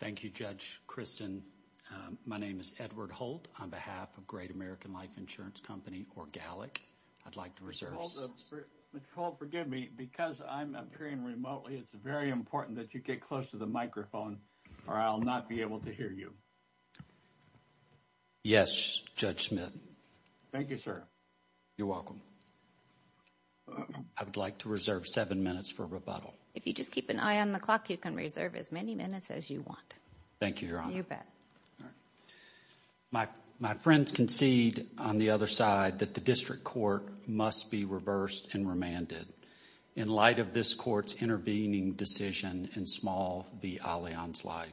Thank you, Judge Kristen. My name is Edward Holt on behalf of Great American Life Insurance Company, or GALIC. I'd like to reserve... Mr. Holt, forgive me. Because I'm appearing remotely, it's very important that you get close to the microphone or I'll not be able to hear you. Yes, Judge Smith. Thank you, sir. You're welcome. I would like to reserve seven minutes for rebuttal. If you just keep an eye on the clock, you can reserve as many minutes as you want. Thank you, Your Honor. You bet. My friends concede on the other side that the district court must be reversed and remanded in light of this court's intervening decision in Small v. Allianz Life.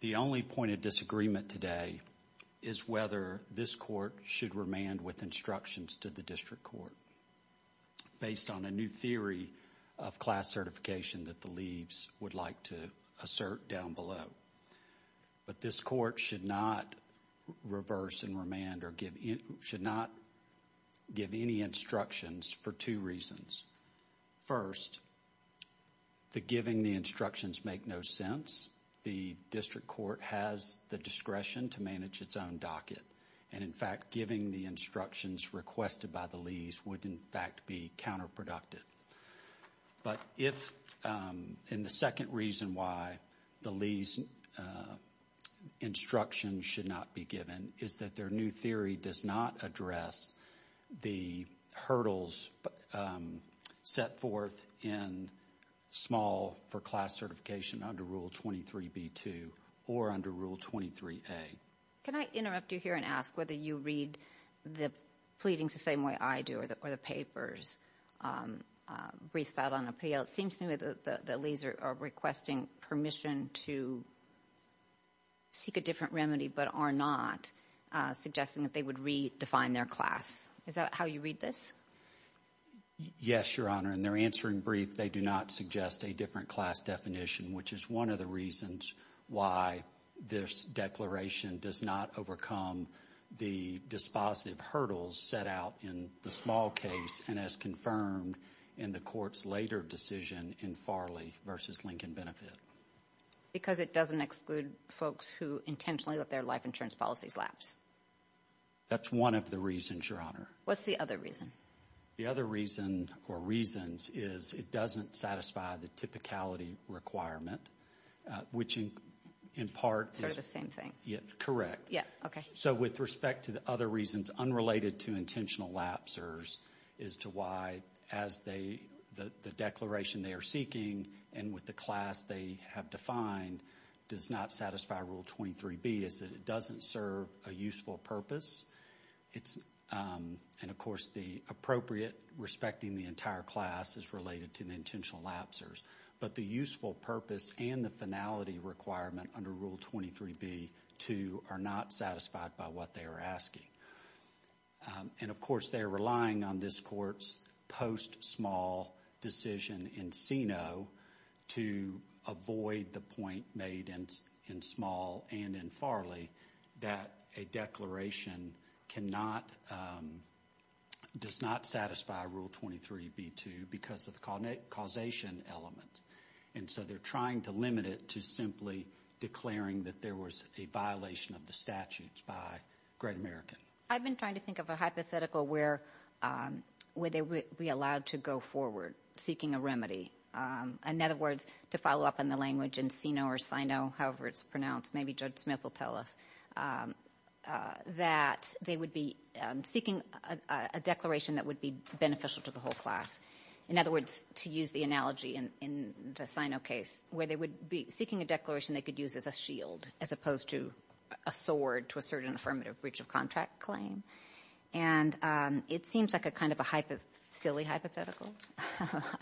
The only point of disagreement today is whether this court should remand with instructions to the district court based on a new theory of class certification that the leaves would like to assert down below. But this court should not reverse and remand or should not give any instructions for two reasons. First, the giving the instructions make no sense. The district court has the discretion to manage its own docket. And in fact, giving the instructions requested by the leaves would in fact be counterproductive. But if in the second reason why the lease instruction should not be given is that their new theory does not address the hurdles set forth in small for class certification under Rule 23 B2 or under Rule 23 A. Can I interrupt you here and ask whether you read the pleadings the same way I do or the papers briefs filed on appeal. It seems to me that the leaves are requesting permission to seek a different remedy but are not suggesting that they would redefine their class. Is that how you read this? Yes, Your Honor. In their answering brief, they do not suggest a different class definition, which is one of the reasons why this declaration does not overcome the dispositive hurdles set out in the small case and as confirmed in the court's later decision in Farley v. Lincoln Benefit. Because it doesn't exclude folks who intentionally let their life insurance policies lapse? That's one of the reasons, Your Honor. What's the other reason? The other reason or reasons is it doesn't satisfy the typicality requirement, which in part is correct. With respect to the other reasons unrelated to intentional lapsers is to why the declaration they are seeking and with the class they have defined does not satisfy Rule 23 B is that it doesn't serve a useful purpose. Of course, the appropriate respecting the entire class is related to the intentional lapsers, but the useful purpose and the finality requirement under Rule 23 B are not satisfied by what they are asking. Of course, they are relying on this court's post-small decision in CINO to avoid the point made in small and in Farley that a declaration does not satisfy Rule 23 B2 because of the causation element. They are trying to limit it to simply declaring that there was a violation of the statutes by Great American. I've been trying to think of a hypothetical where they would be allowed to go forward seeking a remedy. In other words, to follow up on the pronouncement, maybe Judge Smith will tell us, that they would be seeking a declaration that would be beneficial to the whole class. In other words, to use the analogy in the CINO case where they would be seeking a declaration they could use as a shield as opposed to a sword to assert an affirmative breach of contract claim. It seems like a silly hypothetical,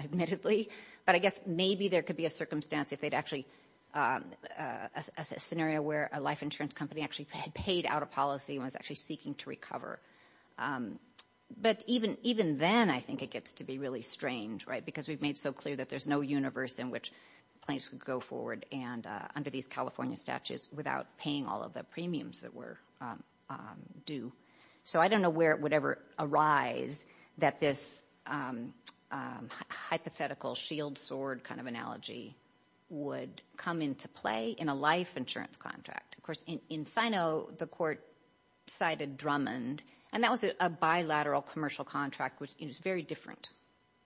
admittedly, but I guess there could be a scenario where a life insurance company actually paid out a policy and was actually seeking to recover. Even then, I think it gets to be really strange because we've made so clear that there's no universe in which claims could go forward under these California statutes without paying all of the premiums that were due. I don't know where it would ever arise that this hypothetical shield sword kind of analogy would come into play in a life insurance contract. Of course, in CINO, the court cited Drummond and that was a bilateral commercial contract, which is very different.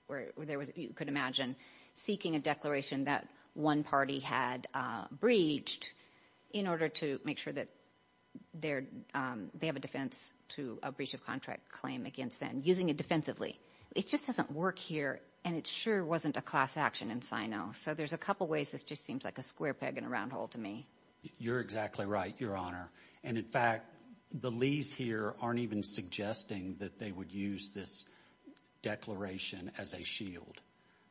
You could imagine seeking a declaration that one party had breached in order to make sure that they have a defense to a breach of contract claim against using it defensively. It just doesn't work here and it sure wasn't a class action in CINO. So, there's a couple ways this just seems like a square peg in a round hole to me. You're exactly right, Your Honor. In fact, the Lees here aren't even suggesting that they would use this declaration as a shield.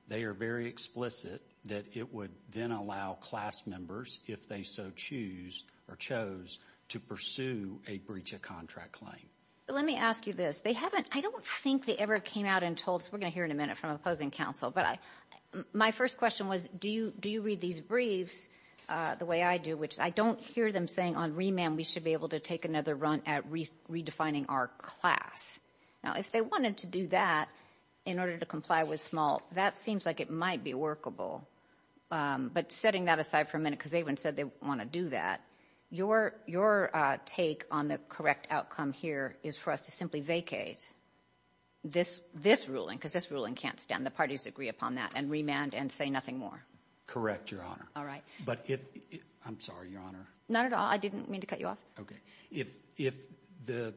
They are very explicit that it would then allow class members, if they so choose or chose, to pursue a breach of contract claim. Let me ask you this. They haven't, I don't think they ever came out and told, we're going to hear in a minute from opposing counsel, but my first question was, do you read these briefs the way I do, which I don't hear them saying on remand we should be able to take another run at redefining our class. Now, if they wanted to do that in order to comply with SMALT, that seems like it might be workable. But setting that aside for a minute, because they even said they want to do that, your take on the correct outcome here is for us to simply vacate this ruling, because this ruling can't stand. The parties agree upon that and remand and say nothing more. Correct, Your Honor. All right. But if, I'm sorry, Your Honor. Not at all. I didn't mean to cut you off. Okay. If the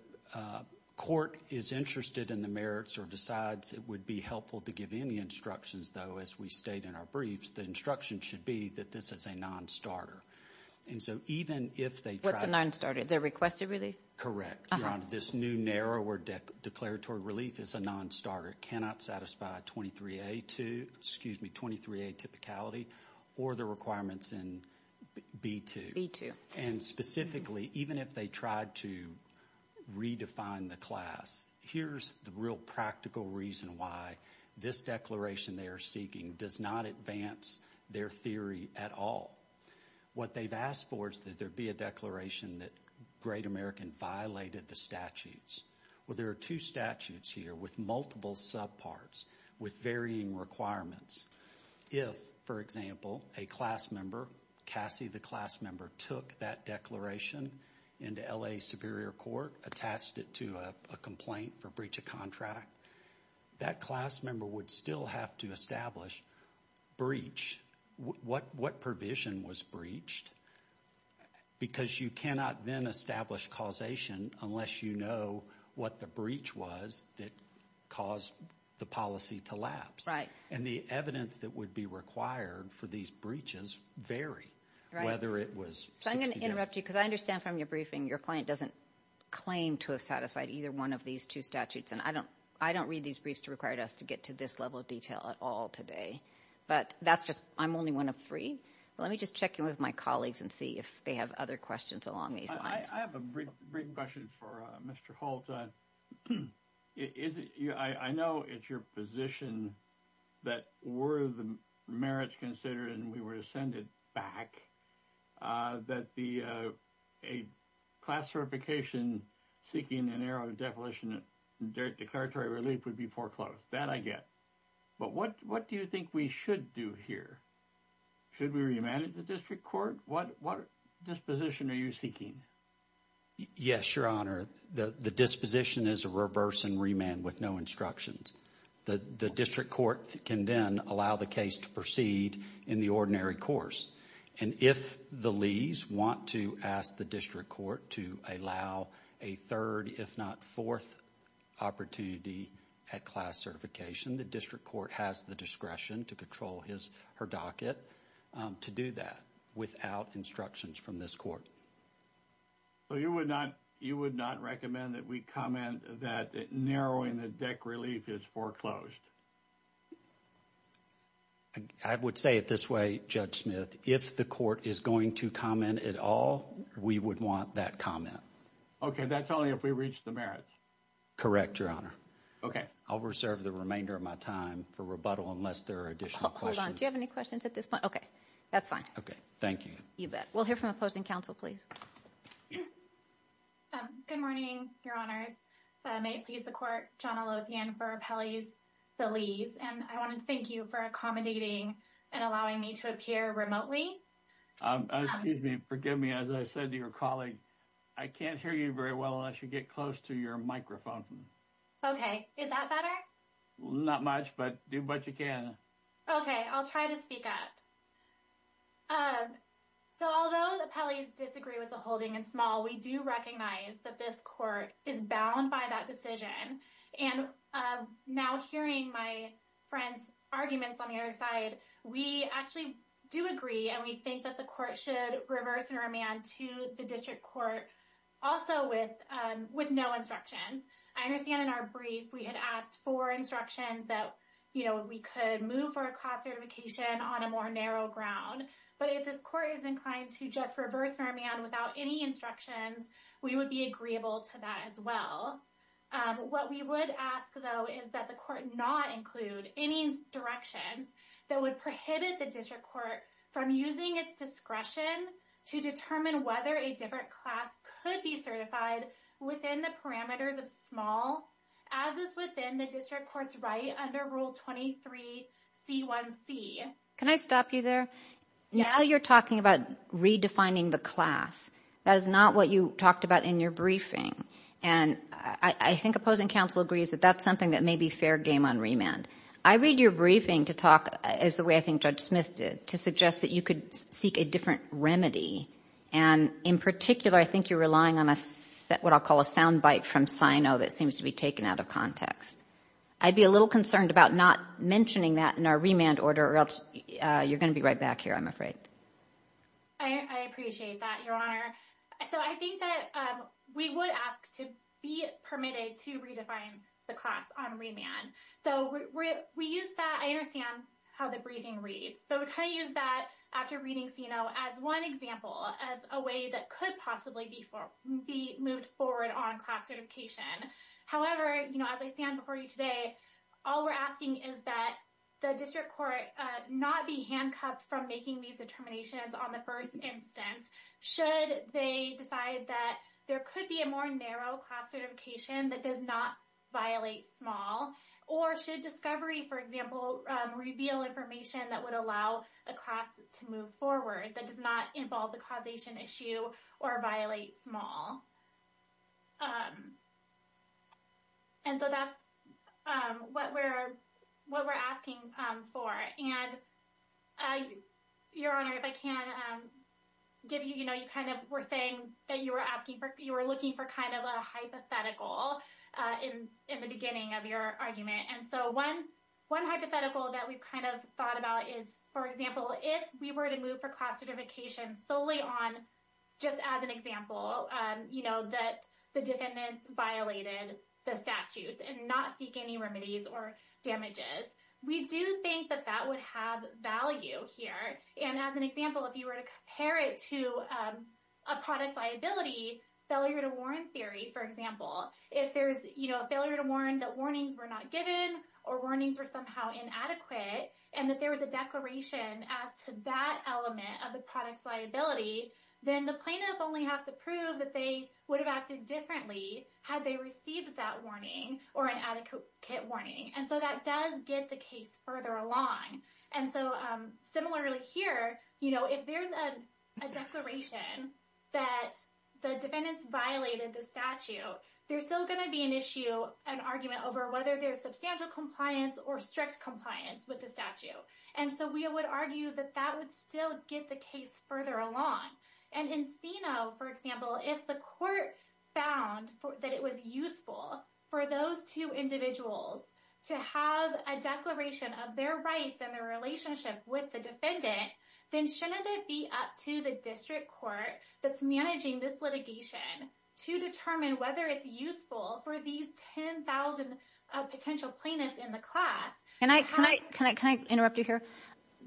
court is interested in the merits or decides it would be helpful to give any instructions, though, as we state in our briefs, the instruction should be that this is a non-starter. And so even if they try— What's a non-starter? The requested relief? Correct, Your Honor. This new, narrower declaratory relief is a non-starter. It cannot satisfy 23A2, excuse me, 23A typicality or the requirements in B2. B2. And specifically, even if they tried to redefine the class, here's the real practical reason why this declaration they are seeking does not advance their theory at all. What they've asked for is that there be a declaration that Great American violated the statutes. Well, there are two statutes here with multiple subparts with varying requirements. If, for example, a class member, Cassie the class member, took that declaration into L.A. Superior Court, attached it to a complaint for breach of contract, that class member would still have to establish breach. What provision was breached? Because you cannot then establish causation unless you know what the breach was that caused the policy to lapse. And the evidence that would be required for these breaches vary, whether it was— So I'm going to interrupt you because I understand from your briefing your client doesn't claim to have satisfied either one of these two statutes. And I don't read these briefs to require us to get to this level of detail at all today. But that's just—I'm only one of three. Let me just check in with my colleagues and see if they have other questions along these lines. I have a brief question for Mr. Holt. I know it's your position that were the merits considered and were rescinded back, that the—a class certification seeking an error of definition declaratory relief would be foreclosed. That I get. But what do you think we should do here? Should we remand it to district court? What disposition are you seeking? Yes, Your Honor. The disposition is a reverse and remand with no instructions. The district court can then allow the case to proceed in the ordinary course. And if the lees want to ask the district court to allow a third if not fourth opportunity at class certification, the district court has the discretion to control his or her docket to do that without instructions from this court. So you would not—you would not recommend that we comment that narrowing the DEC relief is foreclosed? I would say it this way, Judge Smith. If the court is going to comment at all, we would want that comment. Okay. That's only if we reach the merits. Correct, Your Honor. Okay. I'll reserve the remainder of my time for rebuttal unless there are additional questions. Hold on. Do you have any questions at this point? Okay. That's fine. Okay. Thank you. You bet. We'll hear from opposing counsel, please. Yeah. Good morning, Your Honors. If I may please the court, I'm Johnna Lothian for Appellees the Lees, and I want to thank you for accommodating and allowing me to appear remotely. Excuse me. Forgive me. As I said to your colleague, I can't hear you very well unless you get close to your microphone. Okay. Is that better? Not much, but do what you can. Okay. I'll try to speak up. So although the appellees disagree with the holding in small, we do recognize that this court is bound by that decision. And now hearing my friend's arguments on the other side, we actually do agree and we think that the court should reverse and remand to the district court also with no instruction. I understand in our brief, we had asked for instructions that, you know, we could move for a class certification on a more narrow ground. But if this court is inclined to just reverse and remand without any instructions, we would be agreeable to that as well. What we would ask though, is that the court not include any directions that would prohibit the district court from using its discretion to determine whether a different class could be certified within the parameters of small as is within the district court's right under rule 23 C1C. Can I stop you there? Now you're talking about redefining the class. That is not what you talked about in your briefing. And I think opposing counsel agrees that that's something that may be fair game on remand. I read your briefing to talk as the way I think Judge Smith did to suggest that you could seek a different remedy. And in particular, I think you're relying on a set what I'll call a soundbite from SINO that seems to be taken out of context. I'd be a little concerned about not mentioning that in our remand order or else you're going to be right back here, I'm afraid. I appreciate that, Your Honor. So I think that we would ask to be permitted to redefine the class on remand. So we use that, I understand, the briefing reads. But we kind of use that after reading SINO as one example, as a way that could possibly be moved forward on class certification. However, as I stand before you today, all we're asking is that the district court not be handcuffed from making these determinations on the first instance should they decide that there could be a more narrow class certification that does not violate small or should discovery, for example, reveal information that would allow a class to move forward that does not involve the causation issue or violate small. And so that's what we're asking for. And Your Honor, if I can give you, you kind of were saying that you were looking for kind of a hypothetical in the beginning of your argument. And so one hypothetical that we've kind of thought about is, for example, if we were to move for class certification solely on just as an example, you know, that the defendants violated the statutes and not seek any remedies or damages, we do think that that would have value here. And as an example, if you were to compare it to a product liability, failure to warn theory, for example, if there's, you know, a failure to warn that warnings were not given or warnings were somehow inadequate and that there was a declaration as to that element of the product liability, then the plaintiff only has to prove that they would have acted differently had they received that warning or an adequate warning. And so that does get the case further along. And so similarly here, you know, if there's a declaration that the defendants violated the statute, there's still going to be an issue, an argument over whether there's substantial compliance or strict compliance with the statute. And so we would argue that that would still get the case further along. And in Seno, for example, if the court found that it was useful for those two individuals to have a declaration of their rights and their relationship with the defendant, then shouldn't it be up to the district court that's managing this litigation to determine whether it's useful for these 10,000 potential plaintiffs in the class? And I, can I, can I, can I interrupt you here?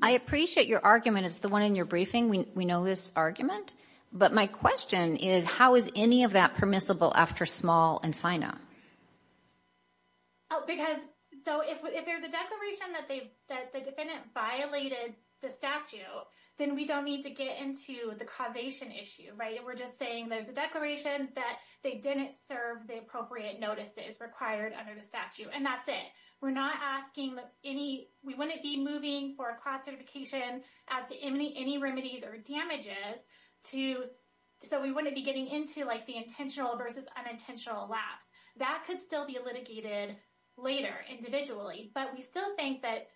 I appreciate your argument. It's the one in your briefing. We know this argument, but my question is how is any of that permissible after small in Sino? Oh, because so if, if there's a declaration that they, that the defendant violated the statute, then we don't need to get into the causation issue, right? And we're just saying there's a declaration that they didn't serve the appropriate notices required under the statute. And that's it. We're not asking any, we wouldn't be moving for a class certification as to any, any remedies or damages to, so we wouldn't be getting into like the intentional versus unintentional lapse that could still be litigated later individually. But we still think that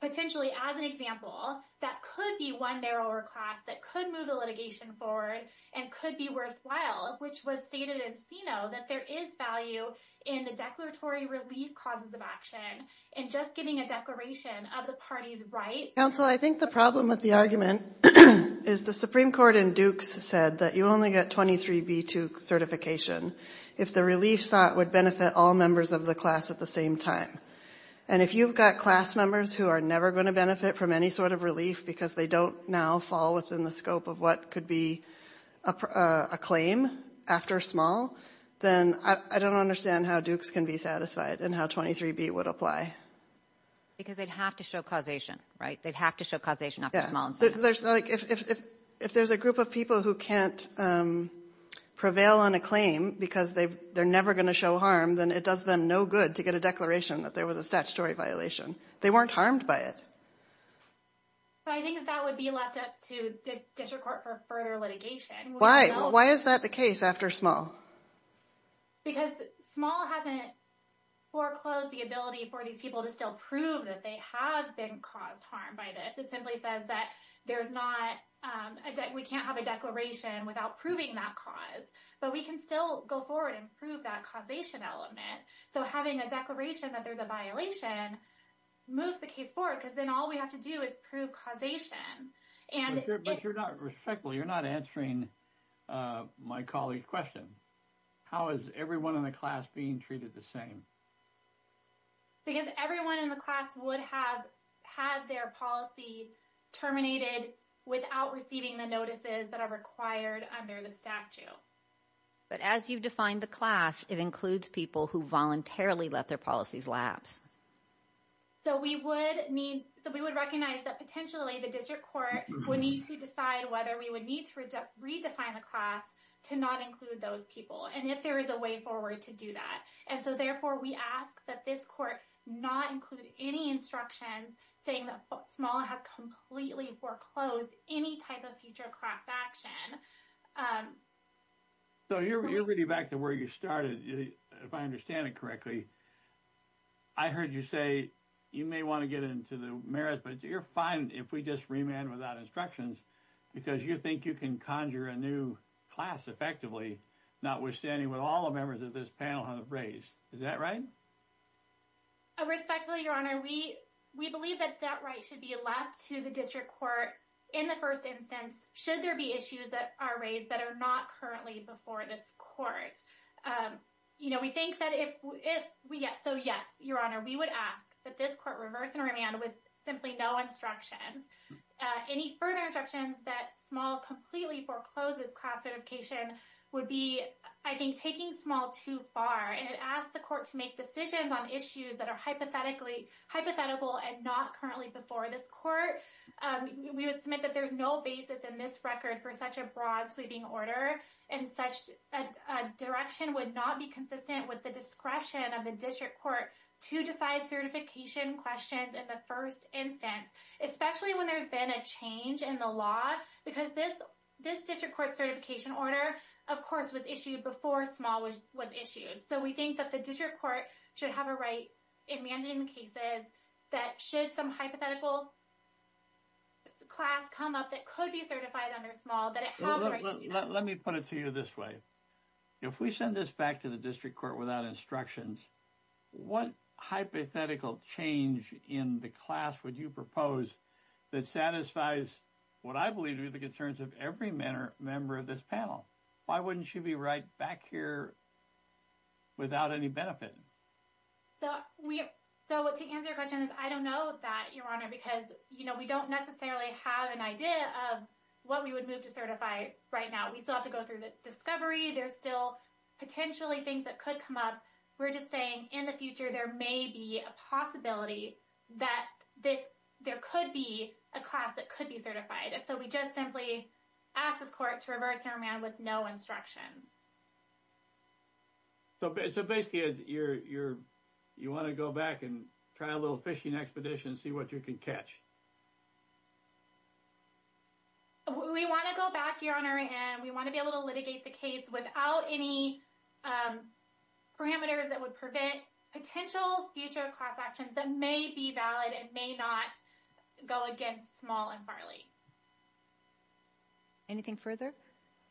potentially as an example, that could be one there or a class that could move the litigation forward and could be worthwhile, which was stated in Sino that there is value in the declaratory relief causes of action and just giving a declaration of the party's right. Counsel, I think the problem with the argument is the Supreme Court in Dukes said that you only get 23B to certification if the relief sought would benefit all members of the class at the same time. And if you've got class members who are never going to benefit from any sort of relief because they don't now fall within the scope of what could be a claim after small, then I don't understand how Dukes can be satisfied and how 23B would apply. Because they'd have to show causation, right? They'd have to show causation after small. If there's a group of people who can't prevail on a claim because they're never going to show harm, then it does them no good to get a declaration that there was a statutory violation. They weren't harmed by it. But I think that that would be left up to the district court for further litigation. Why? Why is that the case after small? Because small hasn't foreclosed the ability for these people to still prove that they have been caused harm by this. It simply says that we can't have a declaration without proving that cause. But we can still go forward and prove that causation element. So having a declaration that there's a violation moves the case forward because then all we have to do is prove causation. But you're not respectful. You're not answering my colleague's question. How is everyone in the class being treated the same? Because everyone in the class would have had their policy terminated without receiving the notices that are required under the statute. But as you've defined the class, it includes people who voluntarily let their policies lapse. So we would need, so we would recognize that potentially the district court would need to decide whether we would need to redefine the class to not include those people. And if there is a way forward to do that. And so therefore we ask that this court not include any instructions saying that small has completely foreclosed any type of future class action. So you're really back to where you started, if I understand it correctly. I heard you say you may want to get into the merit, but you're fine if we just remand without instructions because you think you can conjure a new class effectively, notwithstanding what all members of this panel have raised. Is that right? Respectfully, Your Honor, we believe that that right should be left to the district court in the first instance, should there be issues that are raised that are not currently before this court. We think that if we get, so yes, Your Honor, we would ask that this court reverse and remand with simply no instructions. Any further instructions that small completely forecloses class certification would be, I think, taking small too far and ask the court to make decisions on issues that are hypothetically hypothetical and not currently before this court. We would submit that there's no basis in this record for such a broad sweeping order and such a direction would not be consistent with the discretion of the district court to decide certification questions in the first instance, especially when there's been a change in the law. Because this district court certification order, of course, was issued before small was issued. So we think that the district court should have a right in managing cases that should some hypothetical class come up that could be certified under small, that it has the right to do that. Let me put it to you this way. If we send this back to the district court without instructions, what hypothetical change in the class would you propose that satisfies what I believe to be the concerns of every member of this panel? Why wouldn't she be right back here without any benefit? So to answer your question is I don't know that, Your Honor, because we don't necessarily have an idea of what we would move to certify right now. We still have to go through the discovery. There's potentially things that could come up. We're just saying in the future, there may be a possibility that there could be a class that could be certified. And so we just simply ask this court to revert to our man with no instruction. So basically, you want to go back and try a little fishing expedition, see what you can catch. We want to go back, Your Honor, and we want to be able to litigate the case without any parameters that would prevent potential future class actions that may be valid and may not go against small and Farley. Anything further?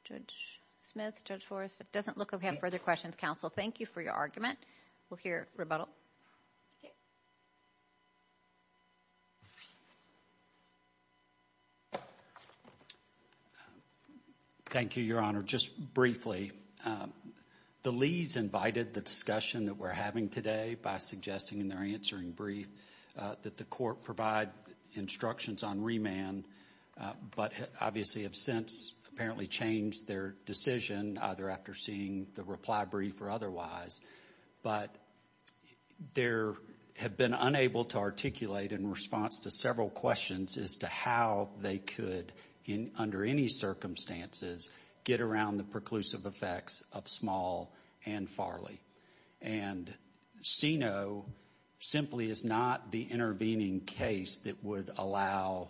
Judge Smith, Judge Forrest, it doesn't look like we have further questions. Counsel, thank you for your argument. We'll hear rebuttal. Thank you, Your Honor. Just briefly, the Lees invited the discussion that we're having today by suggesting in their answering brief that the court provide instructions on remand, but obviously have since apparently changed their decision either after seeing the reply brief or but there have been unable to articulate in response to several questions as to how they could, under any circumstances, get around the preclusive effects of small and Farley. And CINO simply is not the intervening case that would allow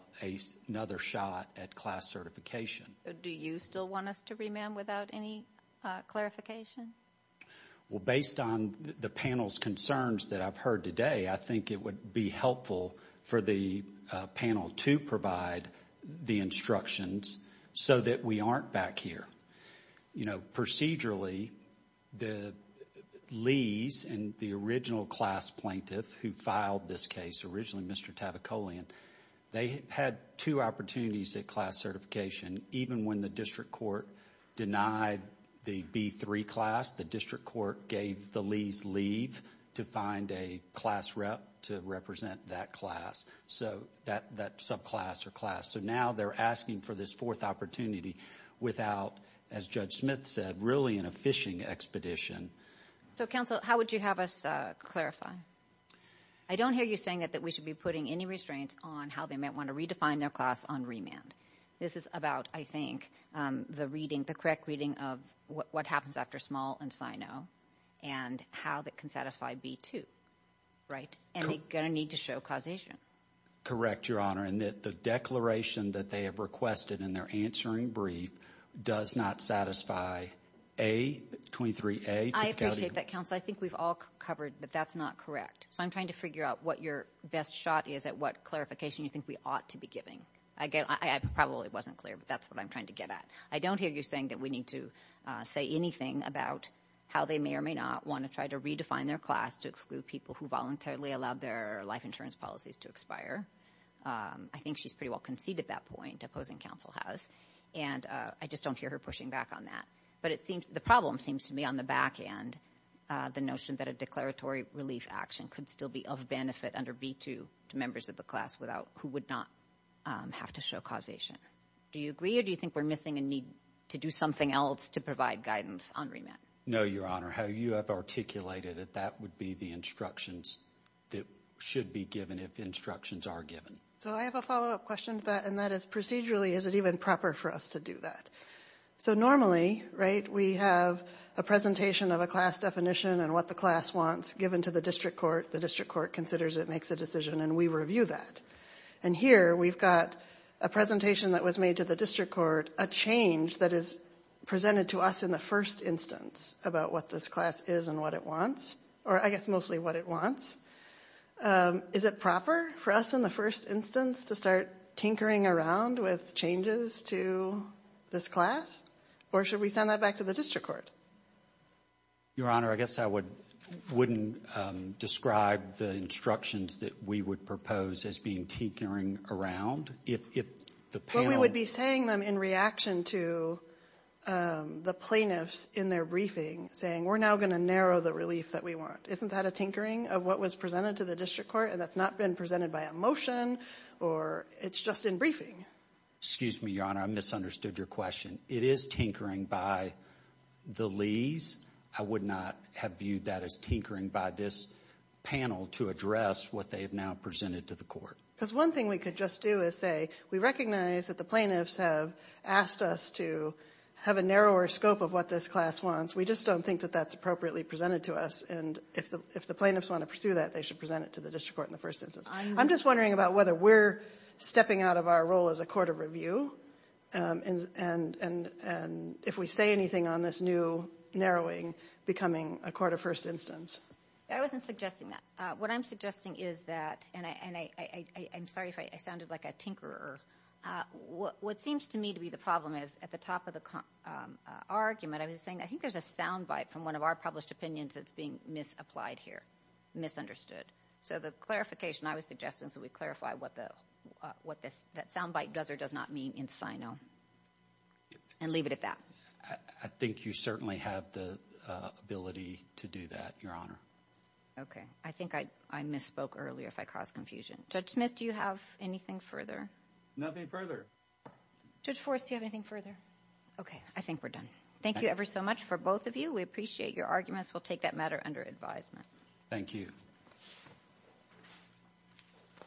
another shot at class certification. Do you still want us to remand without any clarification? Based on the panel's concerns that I've heard today, I think it would be helpful for the panel to provide the instructions so that we aren't back here. You know, procedurally, the Lees and the original class plaintiff who filed this case, originally Mr. Tavakolian, they had two opportunities at class certification. Even when the district court denied the B3 class, the district court gave the Lees leave to find a class rep to represent that class, so that subclass or class. So now they're asking for this fourth opportunity without, as Judge Smith said, really in a fishing expedition. So counsel, how would you have us clarify? I don't hear you saying that we should be putting any restraints on how they I think the reading, the correct reading of what happens after small and CINO and how that can satisfy B2, right? And they're going to need to show causation. Correct, Your Honor. And that the declaration that they have requested in their answering brief does not satisfy A, 23A. I appreciate that, counsel. I think we've all covered that that's not correct. So I'm trying to figure out what your best shot is at what clarification you think we ought to be giving. Again, I probably wasn't clear, but that's what I'm trying to get at. I don't hear you saying that we need to say anything about how they may or may not want to try to redefine their class to exclude people who voluntarily allowed their life insurance policies to expire. I think she's pretty well conceded that point, opposing counsel has. And I just don't hear her pushing back on that. But it seems the problem seems to me on the back end, the notion that a declaratory relief action could still be of benefit under B2 members of the class without who would not have to show causation. Do you agree or do you think we're missing a need to do something else to provide guidance on remand? No, Your Honor. How you have articulated it, that would be the instructions that should be given if instructions are given. So I have a follow up question to that, and that is procedurally, is it even proper for us to do that? So normally, right, we have a presentation of a class definition and what the class wants given to the district court. The district court considers it makes a decision and we review that. And here we've got a presentation that was made to the district court, a change that is presented to us in the first instance about what this class is and what it wants, or I guess mostly what it wants. Is it proper for us in the first instance to start tinkering around with changes to this class? Or should we send that back to the district court? Your Honor, I guess I wouldn't describe the instructions that we would propose as being tinkering around. If the panel... But we would be saying them in reaction to the plaintiffs in their briefing, saying we're now going to narrow the relief that we want. Isn't that a tinkering of what was presented to the district court? And that's not been presented by a motion or it's just in briefing. Excuse me, Your Honor, I misunderstood your question. It is tinkering by the Lees. I would not have viewed that as tinkering by this panel to address what they have now presented to the court. Because one thing we could just do is say, we recognize that the plaintiffs have asked us to have a narrower scope of what this class wants. We just don't think that that's appropriately presented to us. And if the plaintiffs want to pursue that, they should present it to the district court in the first instance. I'm just wondering about whether we're stepping out of our role as a court of review and if we say anything on this new narrowing becoming a court of first instance. I wasn't suggesting that. What I'm suggesting is that... And I'm sorry if I sounded like a tinkerer. What seems to me to be the problem is at the top of the argument, I was saying, I think there's a soundbite from one of our published opinions that's being misapplied here, misunderstood. So the clarification I was suggesting, we clarify what that soundbite does or does not mean in SINO. And leave it at that. I think you certainly have the ability to do that, Your Honor. Okay. I think I misspoke earlier if I caused confusion. Judge Smith, do you have anything further? Nothing further. Judge Forrest, do you have anything further? Okay. I think we're done. Thank you ever so much for both of you. We appreciate your arguments. We'll take that matter under advisement. Thank you. Thank you.